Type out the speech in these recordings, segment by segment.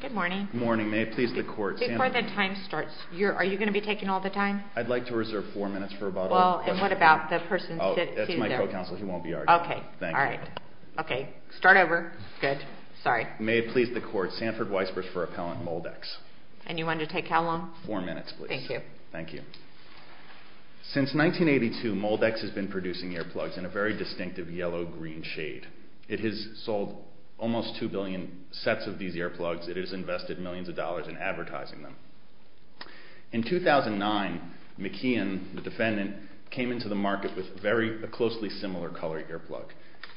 Good morning. Good morning. May it please the court... Before the time starts, are you going to be taking all the time? I'd like to reserve four minutes for a bottle of... Well, and what about the person sitting there? Oh, that's my co-counsel. He won't be arguing. Okay. Thank you. All right. Okay. Start over. Good. Sorry. May it please the court. Sanford Weisbruch for Appellant Moldex. And you wanted to take how long? Four minutes, please. Thank you. Thank you. Since 1982, Moldex has been producing earplugs in a very distinctive yellow-green color. It has sold almost two billion sets of these earplugs. It has invested millions of dollars in advertising them. In 2009, McKeon, the defendant, came into the market with a very closely similar color earplug.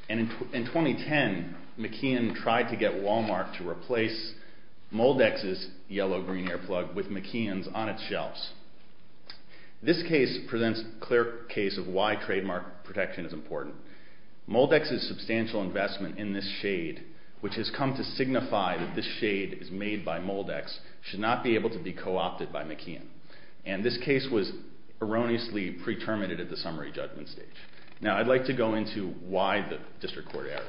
And in 2010, McKeon tried to get Walmart to replace Moldex's yellow-green earplug with McKeon's on its shelves. This case presents a clear case of why trademark protection is important. Moldex's substantial investment in this shade, which has come to signify that this shade is made by Moldex, should not be able to be co-opted by McKeon. And this case was erroneously pre-terminated at the summary judgment stage. Now, I'd like to go into why the district court error.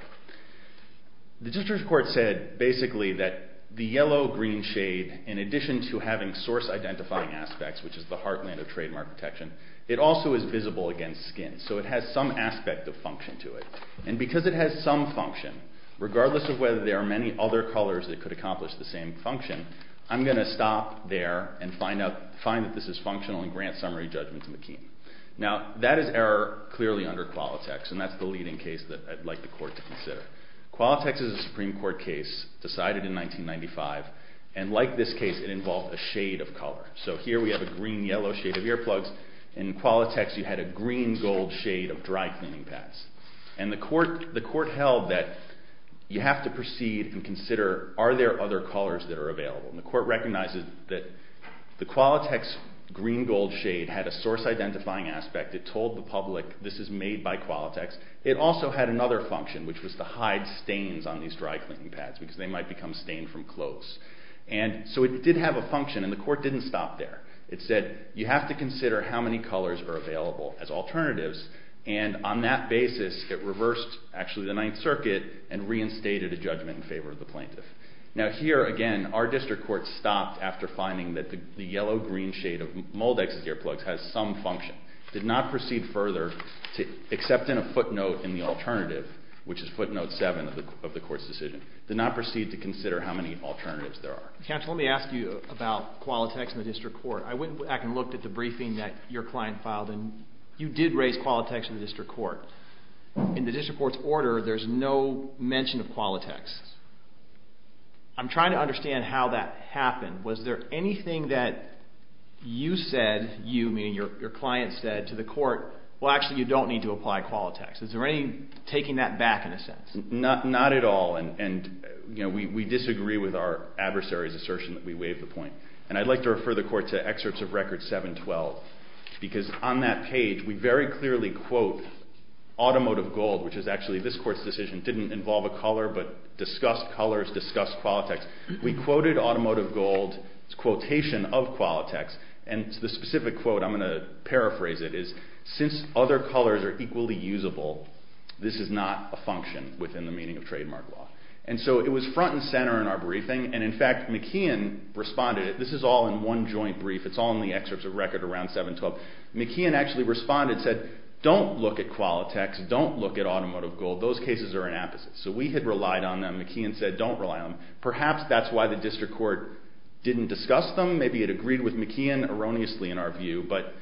The district court said, basically, that the yellow-green shade, in addition to having source-identifying aspects, which is the heartland of trademark protection, it also is visible against skin, so it has some aspect of function to it. And because it has some function, regardless of whether there are many other colors that could accomplish the same function, I'm going to stop there and find that this is functional and grant summary judgment to McKeon. Now, that is error clearly under Qualitex, and that's the leading case that I'd like the court to consider. Qualitex is a Supreme Court case decided in 1995, and like this case, it involved a shade of color. So here we have a green-yellow shade of earplugs, and in Qualitex you had a green-gold shade of dry-cleaning pads. And the court held that you have to proceed and consider, are there other colors that are available? And the court recognizes that the Qualitex green-gold shade had a source-identifying aspect. It told the public, this is made by Qualitex. It also had another function, which was to hide stains on these dry-cleaning pads, because they might become stained from clothes. And so it did have a function, and the court didn't stop there. It said, you have to consider how many colors are available as alternatives, and on that basis it reversed, actually, the Ninth Circuit and reinstated a judgment in favor of the plaintiff. Now here, again, our district court stopped after finding that the yellow-green shade of Moldex's earplugs has some function. It did not proceed further, except in a footnote in the alternative, which is footnote 7 of the court's decision. It did not proceed to consider how many alternatives there are. Counsel, let me ask you about Qualitex in the district court. I went back and looked at the briefing that your client filed, and you did raise Qualitex in the district court. In the district court's order, there's no mention of Qualitex. I'm trying to understand how that happened. Was there anything that you said, you, meaning your client, said to the court, well, actually, you don't need to apply Qualitex? Is there any taking that back, in a sense? Not at all, and we disagree with our adversary's assertion that we waived the point. And I'd like to refer the court to excerpts of Record 712, because on that page, we very clearly quote Automotive Gold, which is actually this court's decision. It didn't involve a color, but discussed colors, discussed Qualitex. We quoted Automotive Gold's quotation of Qualitex, and the specific quote, I'm going to paraphrase it, is, since other colors are equally usable, this is not a function within the meaning of trademark law. And so it was front and center in our briefing, and in fact, McKeon responded. This is all in one joint brief. It's all in the excerpts of Record 712. McKeon actually responded and said, don't look at Qualitex. Don't look at Automotive Gold. Those cases are an apposite. So we had relied on them. McKeon said, don't rely on them. Perhaps that's why the district court didn't discuss them. Maybe it agreed with McKeon erroneously, in our view. But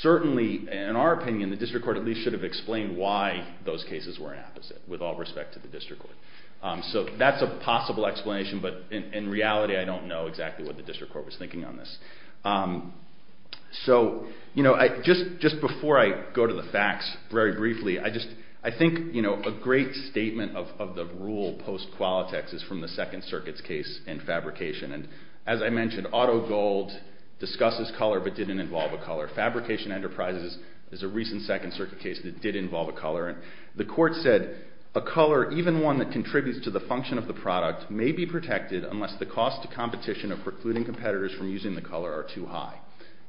certainly, in our opinion, the district court at least should have explained why those cases were an apposite, with all respect to the district court. So that's a possible explanation, but in reality, I don't know exactly what the district court was thinking on this. So just before I go to the facts, very briefly, I think a great statement of the rule post-Qualitex is from the Second Circuit's case in fabrication. And as I mentioned, Auto Gold discusses color but didn't involve a color. Fabrication Enterprises is a recent Second Circuit case that did involve a color. And the court said, a color, even one that contributes to the function of the product, may be protected unless the cost to competition of precluding competitors from using the color are too high.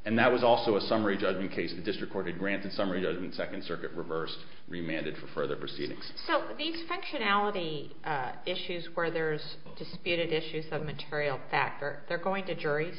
And that was also a summary judgment case. The district court had granted summary judgment, Second Circuit reversed, remanded for further proceedings. So these functionality issues where there's disputed issues of material factor, they're going to juries?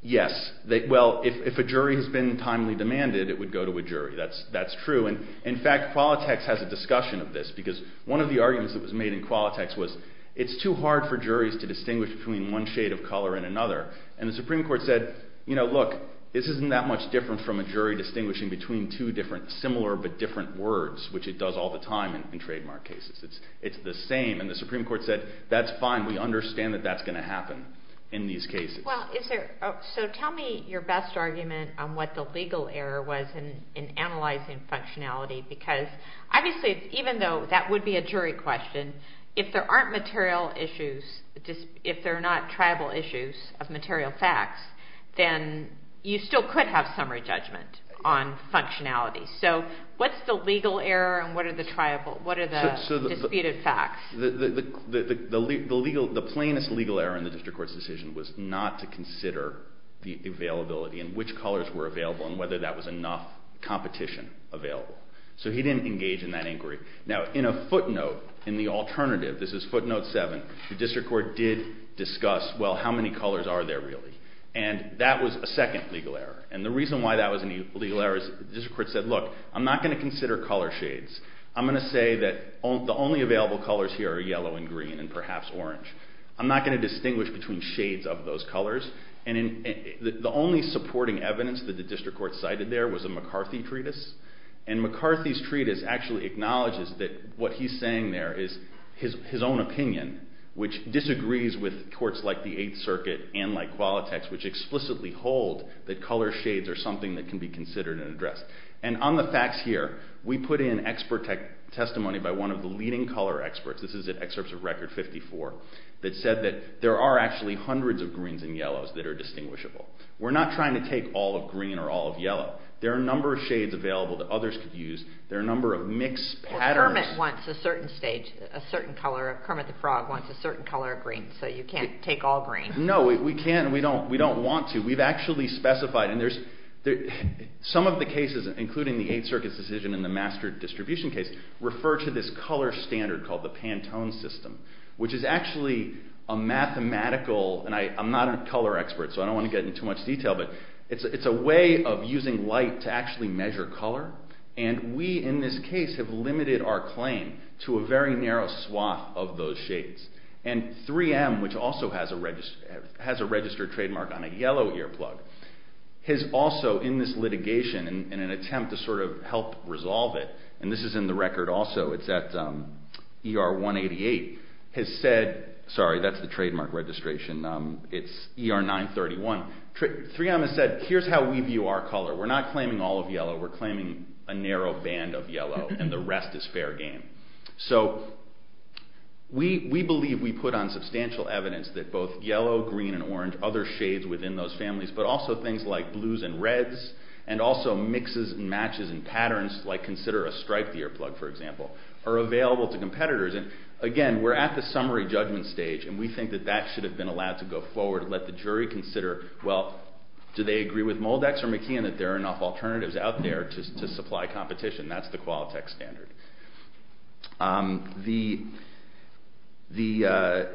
Yes. Well, if a jury has been timely demanded, it would go to a jury. That's true. And in fact, Qualitex has a discussion of this, because one of the arguments that was made in Qualitex was, it's too hard for juries to distinguish between one shade of color and another. And the Supreme Court said, you know, look, this isn't that much different from a jury distinguishing between two different similar but different words, which it does all the time in trademark cases. It's the same. And the Supreme Court said, that's fine. We understand that that's going to happen in these cases. So tell me your best argument on what the legal error was in analyzing functionality, because obviously, even though that would be a jury question, if there aren't material issues, if there are not tribal issues of material facts, then you still could have summary judgment on functionality. So what's the legal error and what are the disputed facts? The plainest legal error in the district court's decision was not to consider the availability and which colors were available and whether that was enough competition available. So he didn't engage in that inquiry. Now, in a footnote, in the alternative, this is footnote 7, the district court did discuss, well, how many colors are there really? And that was a second legal error. And the reason why that was a legal error is the district court said, look, I'm not going to consider color shades. I'm going to say that the only available colors here are yellow and green and perhaps orange. I'm not going to distinguish between shades of those colors. And the only supporting evidence that the district court cited there was a McCarthy treatise. And McCarthy's treatise actually acknowledges that what he's saying there is his own opinion, which disagrees with courts like the Eighth Circuit and like Qualitex, which explicitly hold that color shades are something that can be considered and addressed. And on the facts here, we put in expert testimony by one of the leading color experts. This is an excerpt of Record 54 that said that there are actually hundreds of greens and yellows that are distinguishable. We're not trying to take all of green or all of yellow. There are a number of shades available that others could use. There are a number of mixed patterns. Well, Kermit wants a certain stage, a certain color. Kermit the Frog wants a certain color of green, so you can't take all green. No, we can't and we don't want to. We've actually specified, and some of the cases, including the Eighth Circuit's decision and the Master Distribution case, refer to this color standard called the Pantone system, which is actually a mathematical, and I'm not a color expert, so I don't want to get into too much detail, but it's a way of using light to actually measure color. And we, in this case, have limited our claim to a very narrow swath of those shades. And 3M, which also has a registered trademark on a yellow earplug, has also, in this litigation, in an attempt to sort of help resolve it, and this is in the record also, it's at ER 188, has said, sorry, that's the trademark registration, it's ER 931, 3M has said, here's how we view our color. We're not claiming all of yellow. We're claiming a narrow band of yellow and the rest is fair game. So we believe we put on substantial evidence that both yellow, green, and orange, other shades within those families, but also things like blues and reds, and also mixes and matches and patterns, like consider a striped earplug, for example, are available to competitors. And again, we're at the summary judgment stage, and we think that that should have been allowed to go forward, let the jury consider, well, do they agree with Moldex or McKeon that there are enough alternatives out there to supply competition? That's the Qualtech standard. The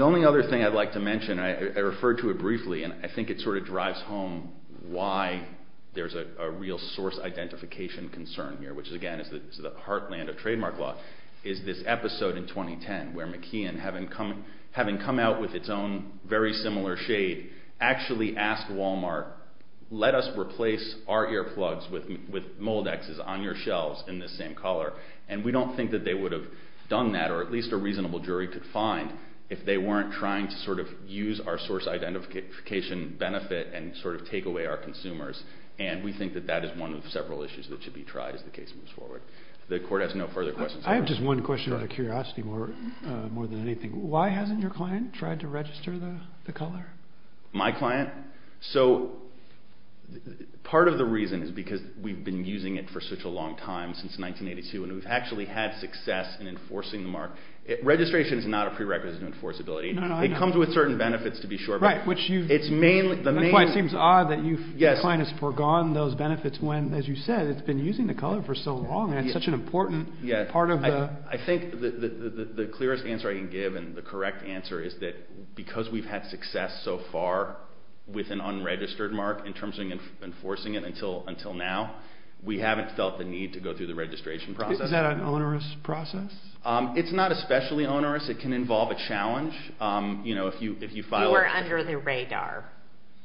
only other thing I'd like to mention, and I referred to it briefly, and I think it sort of drives home why there's a real source identification concern here, which again is the heartland of trademark law, is this episode in 2010 where McKeon, having come out with its own very similar shade, actually asked Walmart, let us replace our earplugs with Moldex's on your shelves in this same color. And we don't think that they would have done that, or at least a reasonable jury could find, if they weren't trying to sort of use our source identification benefit and sort of take away our consumers. And we think that that is one of several issues that should be tried as the case moves forward. The court has no further questions. I have just one question out of curiosity more than anything. Why hasn't your client tried to register the color? My client? So part of the reason is because we've been using it for such a long time, since 1982, and we've actually had success in enforcing the mark. Registration is not a prerequisite to enforceability. It comes with certain benefits, to be sure. Right. It seems odd that your client has forgone those benefits when, as you said, it's been using the color for so long, and it's such an important part of the... I think the clearest answer I can give, and the correct answer, is that because we've had success so far with an unregistered mark in terms of enforcing it until now, we haven't felt the need to go through the registration process. Is that an onerous process? It's not especially onerous. It can involve a challenge. You know, if you file... You were under the radar.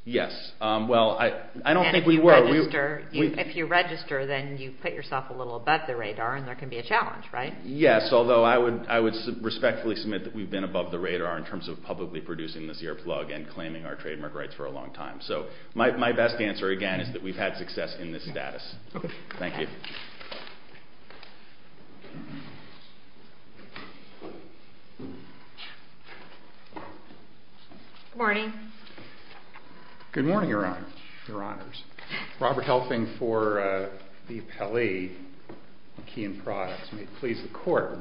Yes. Well, I don't think we were. And if you register, then you put yourself a little above the radar, and there can be a challenge, right? Yes, although I would respectfully submit that we've been above the radar in terms of publicly producing the CR plug and claiming our trademark rights for a long time. So my best answer, again, is that we've had success in this status. Okay. Thank you. Good morning. Good morning, Your Honors. Robert Helfing for the appellee, McKee and Products. May it please the Court.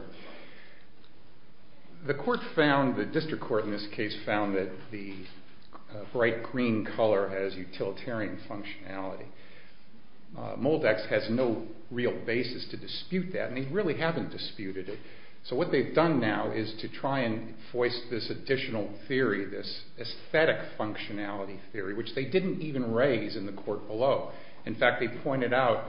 The court found, the district court in this case, found that the bright green color has utilitarian functionality. Moldex has no real basis to dispute that, and they really haven't disputed it. So what they've done now is to try and voice this additional theory, this aesthetic functionality theory, which they didn't even raise in the court below. In fact, they pointed out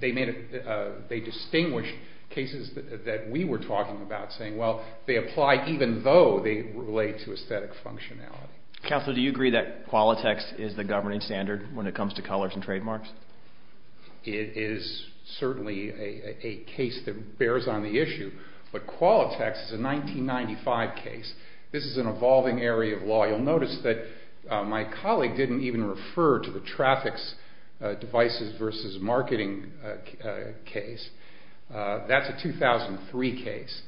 they distinguished cases that we were talking about, saying, well, they apply even though they relate to aesthetic functionality. Counselor, do you agree that Qualitex is the governing standard when it comes to colors and trademarks? It is certainly a case that bears on the issue, but Qualitex is a 1995 case. This is an evolving area of law. You'll notice that my colleague didn't even refer to the traffic devices versus marketing case. That's a 2003 case.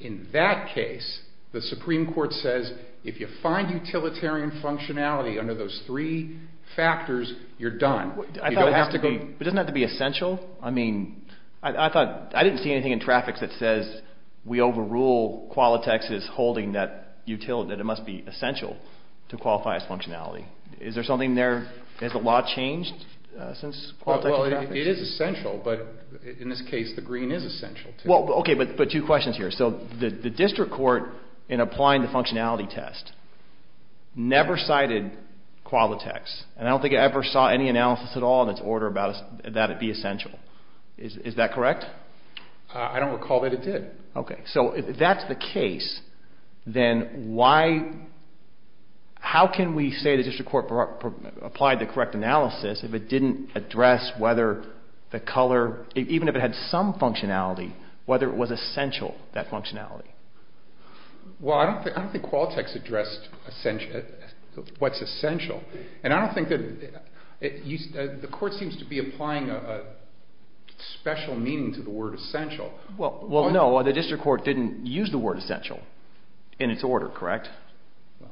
In that case, the Supreme Court says, if you find utilitarian functionality under those three factors, you're done. It doesn't have to be essential. I mean, I didn't see anything in traffic that says we overrule Qualitex holding that it must be essential to qualify as functionality. Is there something there? Has the law changed since Qualitex? It is essential, but in this case, the green is essential. Okay, but two questions here. The district court, in applying the functionality test, never cited Qualitex, and I don't think it ever saw any analysis at all in its order that it be essential. Is that correct? I don't recall that it did. Okay, so if that's the case, then how can we say the district court applied the correct analysis if it didn't address whether the color, even if it had some functionality, whether it was essential, that functionality? Well, I don't think Qualitex addressed what's essential, and I don't think that the court seems to be applying a special meaning to the word essential. Well, no, the district court didn't use the word essential in its order, correct?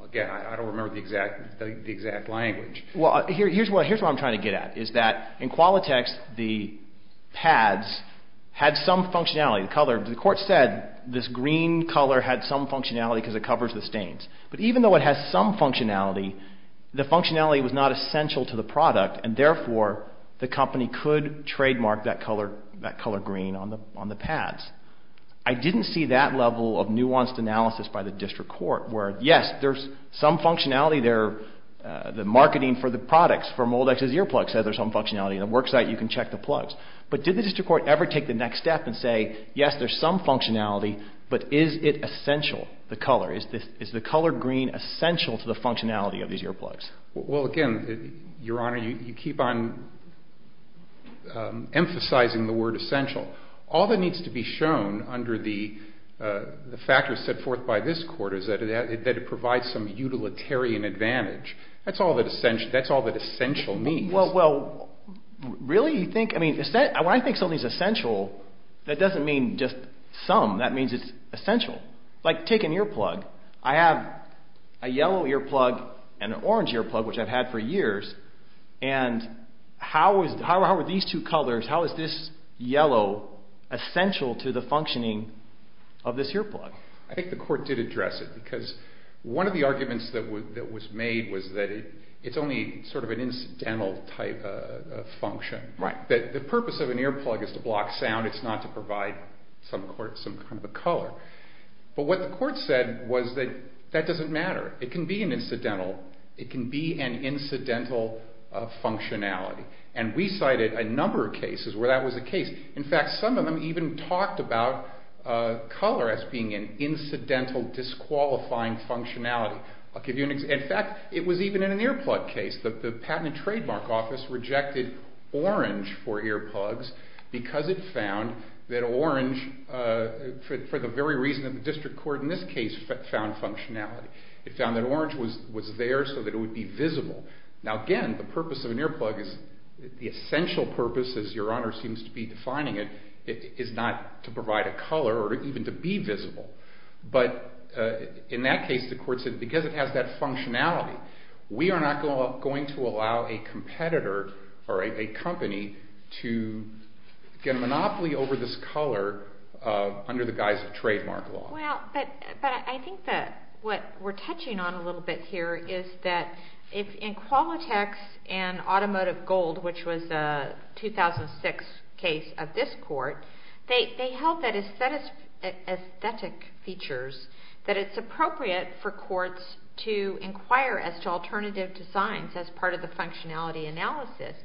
Again, I don't remember the exact language. Well, here's what I'm trying to get at, is that in Qualitex, the pads had some functionality. The court said this green color had some functionality because it covers the stains. But even though it has some functionality, the functionality was not essential to the product, and therefore the company could trademark that color green on the pads. I didn't see that level of nuanced analysis by the district court, where, yes, there's some functionality there. The marketing for the products from Old Ex's Earplugs says there's some functionality in the worksite. You can check the plugs. But did the district court ever take the next step and say, yes, there's some functionality, but is it essential, the color? Is the color green essential to the functionality of these earplugs? Well, again, Your Honor, you keep on emphasizing the word essential. All that needs to be shown under the factors set forth by this court is that it provides some utilitarian advantage. That's all that essential means. Well, really? When I think something's essential, that doesn't mean just some. That means it's essential. Like, take an earplug. I have a yellow earplug and an orange earplug, which I've had for years, and how are these two colors, how is this yellow, essential to the functioning of this earplug? I think the court did address it because one of the arguments that was made was that it's only sort of an incidental type of function. The purpose of an earplug is to block sound. It's not to provide some kind of a color. But what the court said was that that doesn't matter. It can be an incidental functionality. And we cited a number of cases where that was the case. In fact, some of them even talked about color as being an incidental disqualifying functionality. In fact, it was even in an earplug case. The Patent and Trademark Office rejected orange for earplugs because it found that orange, for the very reason that the district court in this case found functionality. It found that orange was there so that it would be visible. Now, again, the purpose of an earplug is the essential purpose, as Your Honor seems to be defining it, is not to provide a color or even to be visible. But in that case, the court said because it has that functionality, we are not going to allow a competitor or a company to get a monopoly over this color under the guise of trademark law. Well, but I think that what we're touching on a little bit here is that in Qualitex and Automotive Gold, which was a 2006 case of this court, they held that aesthetic features, that it's appropriate for courts to inquire as to alternative designs as part of the functionality analysis.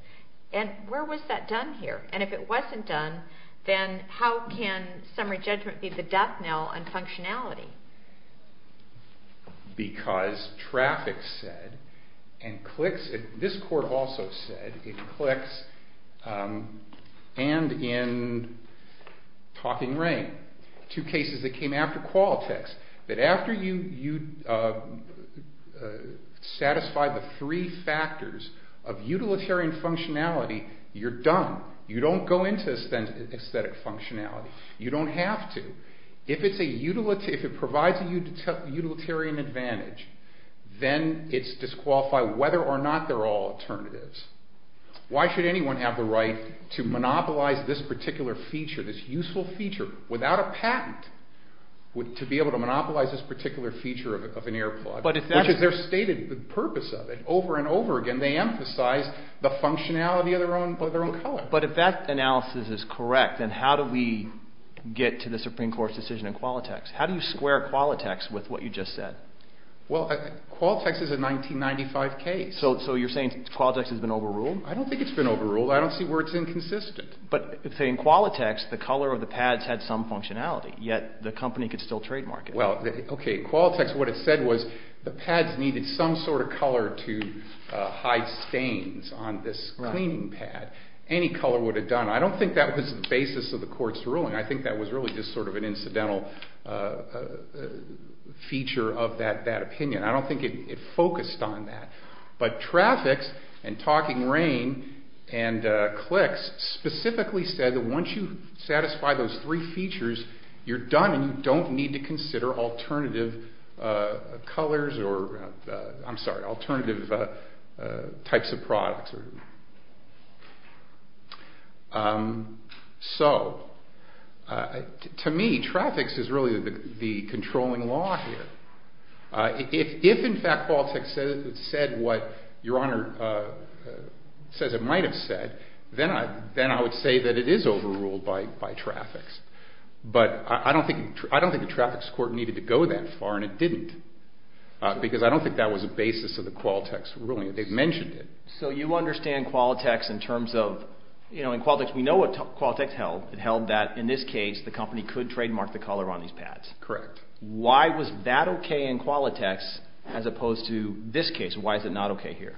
And where was that done here? And if it wasn't done, then how can summary judgment be the death knell on functionality? Because traffic said and clicks, this court also said it clicks and in Talking Rain, two cases that came after Qualitex, that after you satisfy the three factors of utilitarian functionality, you're done. You don't go into aesthetic functionality. You don't have to. If it provides a utilitarian advantage, then it's disqualified whether or not they're all alternatives. Why should anyone have the right to monopolize this particular feature, this useful feature, without a patent, to be able to monopolize this particular feature of an airplane? Because they're stating the purpose of it over and over again. They emphasize the functionality of their own color. But if that analysis is correct, then how do we get to the Supreme Court's decision in Qualitex? How do you square Qualitex with what you just said? Well, Qualitex is a 1995 case. So you're saying Qualitex has been overruled? I don't think it's been overruled. I don't see where it's inconsistent. But in Qualitex, the color of the pads had some functionality, yet the company could still trademark it. Well, okay, Qualitex, what it said was the pads needed some sort of color to hide stains on this cleaning pad. Any color would have done. I don't think that was the basis of the court's ruling. I think that was really just sort of an incidental feature of that opinion. I don't think it focused on that. But Traffics and Talking Rain and Clix specifically said that once you satisfy those three features, you're done and you don't need to consider alternative colors or, I'm sorry, alternative types of products. So, to me, Traffics is really the controlling law here. If, in fact, Qualitex said what Your Honor says it might have said, then I would say that it is overruled by Traffics. But I don't think the Traffics Court needed to go that far and it didn't because I don't think that was the basis of the Qualitex ruling. They've mentioned it. So you understand Qualitex in terms of, you know, in Qualitex, we know what Qualitex held. It held that, in this case, the company could trademark the color on these pads. Correct. Why was that okay in Qualitex as opposed to this case? Why is it not okay here?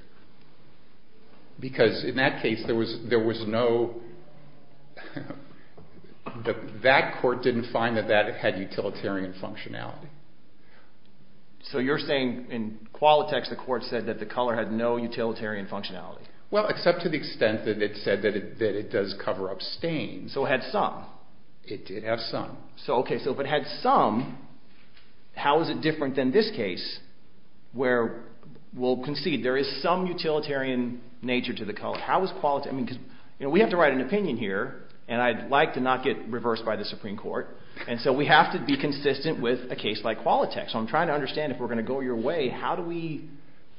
Because, in that case, there was no – that court didn't find that that had utilitarian functionality. So you're saying in Qualitex, the court said that the color had no utilitarian functionality? Well, except to the extent that it said that it does cover up stains. So it had some. It has some. Okay, so if it had some, how is it different than this case where, we'll concede, there is some utilitarian nature to the color. How is Qualitex – I mean, because, you know, we have to write an opinion here, and I'd like to not get reversed by the Supreme Court, and so we have to be consistent with a case like Qualitex. So I'm trying to understand if we're going to go your way, how do we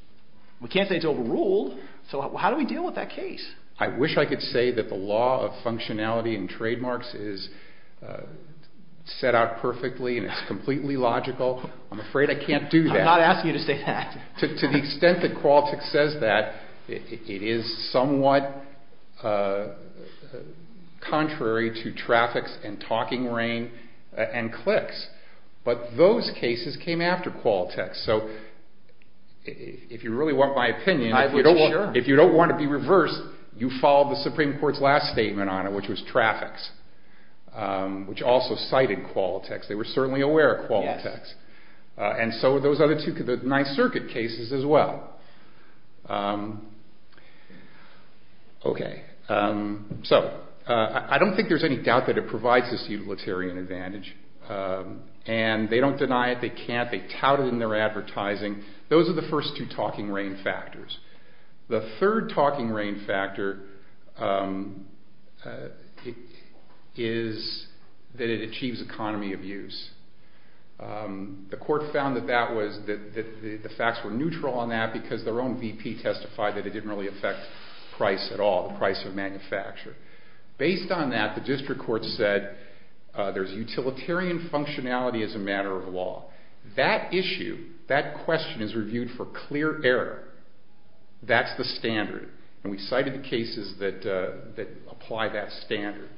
– we can't say it's overruled, so how do we deal with that case? I wish I could say that the law of functionality and trademarks is set out perfectly and it's completely logical. I'm afraid I can't do that. I'm not asking you to say that. To the extent that Qualitex says that, it is somewhat contrary to traffic and talking rain and clicks. But those cases came after Qualitex. So if you really want my opinion, if you don't want to be reversed, you follow the Supreme Court's last statement on it, which was traffic, which also cited Qualitex. They were certainly aware of Qualitex. And so were those other two, the Ninth Circuit cases as well. Okay. So I don't think there's any doubt that it provides this utilitarian advantage, and they don't deny it. They can't. They tout it in their advertising. Those are the first two talking rain factors. The third talking rain factor is that it achieves economy of use. The court found that the facts were neutral on that because their own VP testified that it didn't really affect price at all, the price of manufacture. Based on that, the district court said there's utilitarian functionality as a matter of law. That issue, that question is reviewed for clear error. That's the standard. And we cited the cases that apply that standard.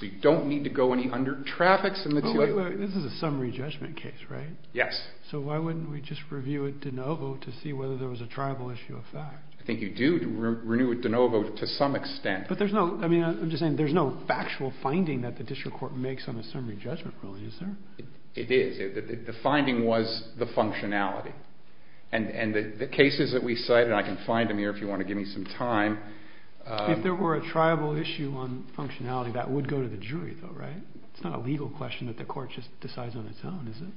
So you don't need to go any under traffics in the two. This is a summary judgment case, right? Yes. So why wouldn't we just review it de novo to see whether there was a tribal issue of fact? I think you do renew it de novo to some extent. But there's no factual finding that the district court makes on a summary judgment, really, is there? It is. The finding was the functionality. And the cases that we cite, and I can find them here if you want to give me some time. If there were a tribal issue on functionality, that would go to the jury, though, right? It's not a legal question that the court just decides on its own, is it?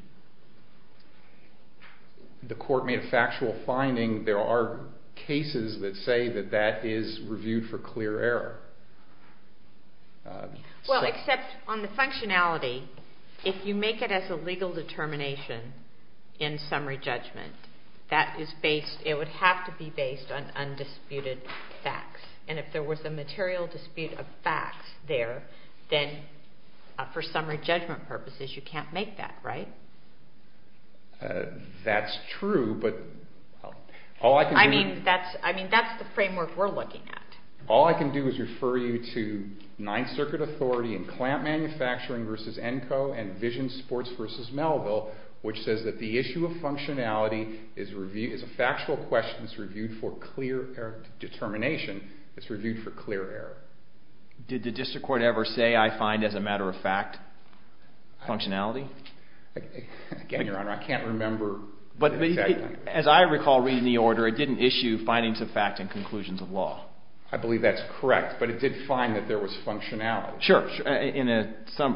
The court made a factual finding. There are cases that say that that is reviewed for clear error. Well, except on the functionality, if you make it as a legal determination in summary judgment, it would have to be based on undisputed facts. And if there was a material dispute of facts there, then for summary judgment purposes, you can't make that, right? That's true. I mean, that's the framework we're looking at. All I can do is refer you to Ninth Circuit Authority and Clamp Manufacturing v. ENCO and Vision Sports v. Melville, which says that the issue of functionality is a factual question that's reviewed for clear error determination. It's reviewed for clear error. Did the district court ever say, I find, as a matter of fact, functionality? Again, Your Honor, I can't remember exactly. As I recall reading the order, it didn't issue findings of fact and conclusions of law. I believe that's correct. But it did find that there was functionality. Sure.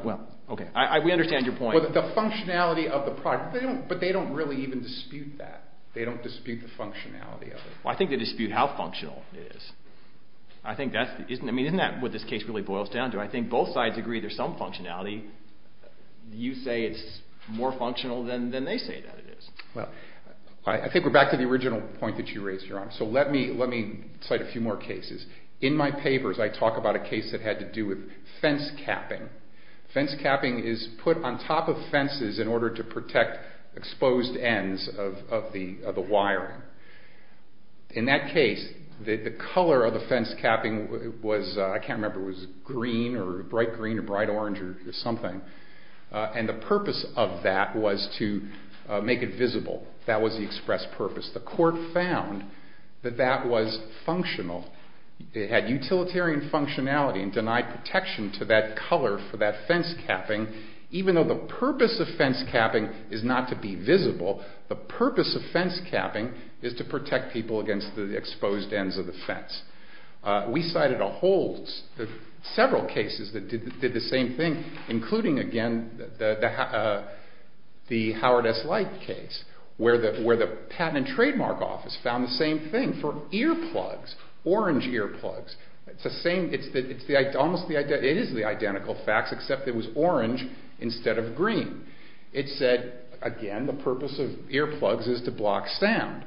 Well, okay. We understand your point. The functionality of the product. But they don't really even dispute that. They don't dispute the functionality of it. Well, I think they dispute how functional it is. Isn't that what this case really boils down to? I think both sides agree there's some functionality. You say it's more functional than they say that it is. Well, I think we're back to the original point that you raised, Your Honor. So let me cite a few more cases. In my papers, I talk about a case that had to do with fence capping. Fence capping is put on top of fences in order to protect exposed ends of the wiring. In that case, the color of the fence capping was, I can't remember, was green or bright green or bright orange or something. And the purpose of that was to make it visible. That was the express purpose. The court found that that was functional. It had utilitarian functionality and denied protection to that color for that fence capping, even though the purpose of fence capping is not to be visible. The purpose of fence capping is to protect people against the exposed ends of the fence. We cited several cases that did the same thing, including, again, the Howard S. Light case, where the Patent and Trademark Office found the same thing for earplugs, orange earplugs. It is the identical facts, except it was orange instead of green. It said, again, the purpose of earplugs is to block sound.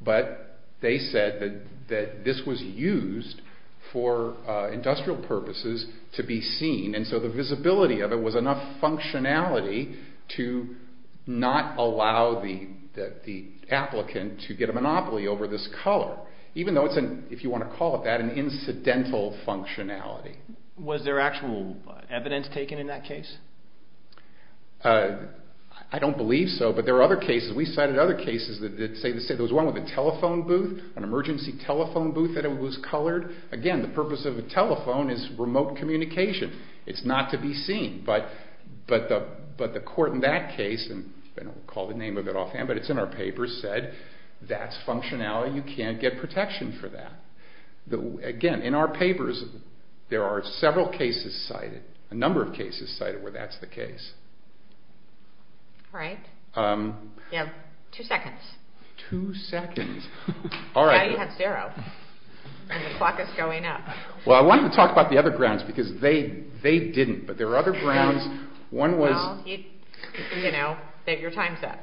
But they said that this was used for industrial purposes to be seen, and so the visibility of it was enough functionality to not allow the applicant to get a monopoly over this color, even though it's, if you want to call it that, an incidental functionality. Was there actual evidence taken in that case? I don't believe so, but there are other cases. There was one with a telephone booth, an emergency telephone booth that was colored. Again, the purpose of a telephone is remote communication. It's not to be seen, but the court in that case, and we'll call the name of it offhand, but it's in our papers, said that's functionality. You can't get protection for that. Again, in our papers, there are several cases cited, a number of cases cited where that's the case. All right. You have two seconds. Two seconds. Now you have zero, and the clock is going up. Well, I wanted to talk about the other grounds, because they didn't, but there are other grounds. Well, you know, your time's up.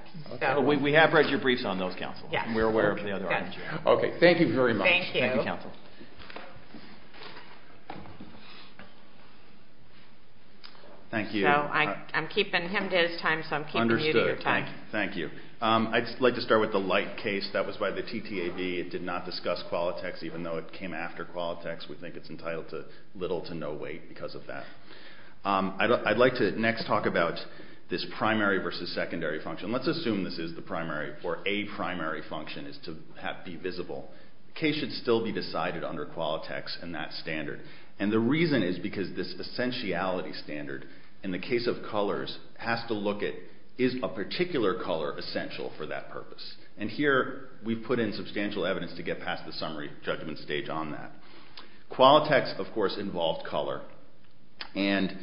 We have read your briefs on those, counsel, and we're aware of the other items you have. Okay, thank you very much. Thank you. Thank you, counsel. Thank you. So I'm keeping him to his time, so I'm keeping you to your time. Understood. Thank you. I'd like to start with the light case that was by the TTAB. It did not discuss Qualitex, even though it came after Qualitex. We think it's entitled to little to no weight because of that. I'd like to next talk about this primary versus secondary function. Let's assume this is the primary or a primary function is to be visible. The case should still be decided under Qualitex and that standard, and the reason is because this essentiality standard in the case of colors has to look at is a particular color essential for that purpose? And here we've put in substantial evidence to get past the summary judgment stage on that. Qualitex, of course, involved color, and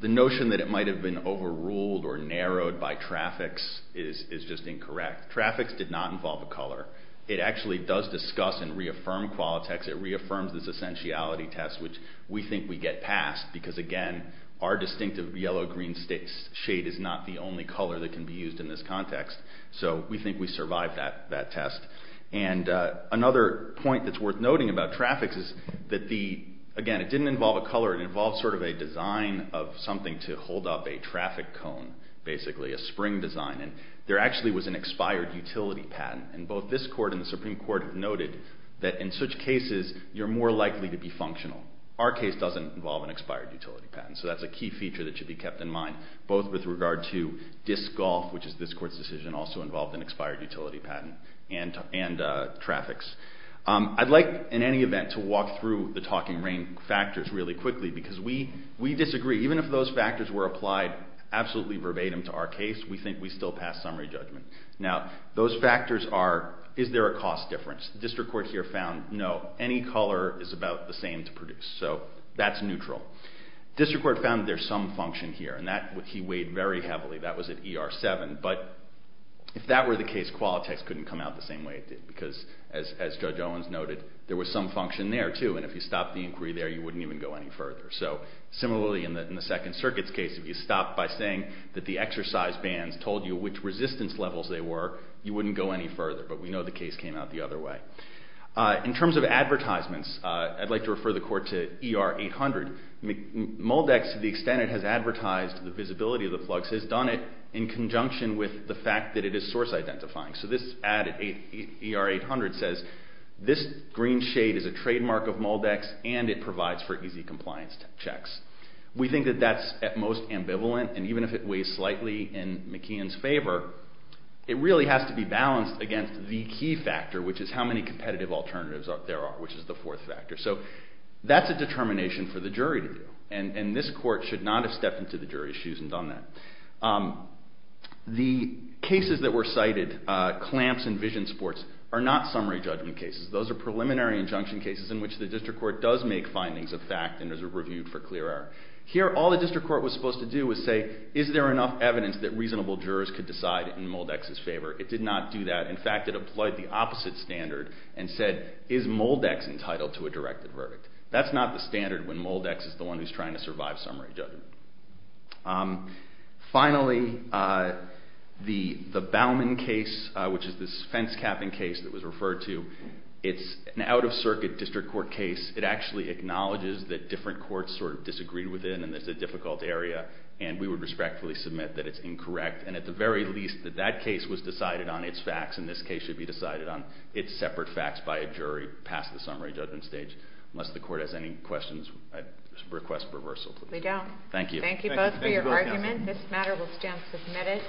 the notion that it might have been overruled or narrowed by traffics is just incorrect. Traffics did not involve a color. It actually does discuss and reaffirm Qualitex. It reaffirms this essentiality test, which we think we get past because, again, our distinctive yellow-green shade is not the only color that can be used in this context, so we think we survived that test. And another point that's worth noting about traffics is that, again, it didn't involve a color. It involved sort of a design of something to hold up a traffic cone, basically, a spring design, and there actually was an expired utility patent, and both this Court and the Supreme Court have noted that, in such cases, you're more likely to be functional. Our case doesn't involve an expired utility patent, so that's a key feature that should be kept in mind, both with regard to DIS golf, which is this Court's decision, also involved an expired utility patent, and traffics. I'd like, in any event, to walk through the talking rain factors really quickly because we disagree. Even if those factors were applied absolutely verbatim to our case, we think we still pass summary judgment. Now, those factors are, is there a cost difference? The District Court here found, no, any color is about the same to produce, so that's neutral. The District Court found that there's some function here, and that he weighed very heavily. That was at ER 7, but if that were the case, Qualitex couldn't come out the same way it did because, as Judge Owens noted, there was some function there, too, and if you stopped the inquiry there, you wouldn't even go any further. Similarly, in the Second Circuit's case, if you stopped by saying that the exercise bans told you which resistance levels they were, you wouldn't go any further, but we know the case came out the other way. In terms of advertisements, I'd like to refer the Court to ER 800. Moldex, to the extent it has advertised the visibility of the plugs, has done it in conjunction with the fact that it is source identifying. So this ad at ER 800 says, this green shade is a trademark of Moldex, and it provides for easy compliance checks. We think that that's at most ambivalent, and even if it weighs slightly in McKeon's favor, it really has to be balanced against the key factor, which is how many competitive alternatives there are, which is the fourth factor. So that's a determination for the jury to do, and this Court should not have stepped into the jury's shoes and done that. The cases that were cited, clamps and vision sports, are not summary judgment cases. Those are preliminary injunction cases in which the District Court does make findings of fact and is reviewed for clear error. Here, all the District Court was supposed to do was say, is there enough evidence that reasonable jurors could decide in Moldex's favor? It did not do that. In fact, it applied the opposite standard and said, is Moldex entitled to a directed verdict? That's not the standard when Moldex is the one who's trying to survive summary judgment. Finally, the Bauman case, which is this fence capping case that was referred to, it's an out-of-circuit District Court case. It actually acknowledges that different courts sort of disagreed with it and that it's a difficult area, and we would respectfully submit that it's incorrect and at the very least that that case was decided on its facts and this case should be decided on its separate facts by a jury past the summary judgment stage. Unless the Court has any questions, I request reversal, please. We don't. Thank you. Thank you both for your argument. This matter will stand submitted.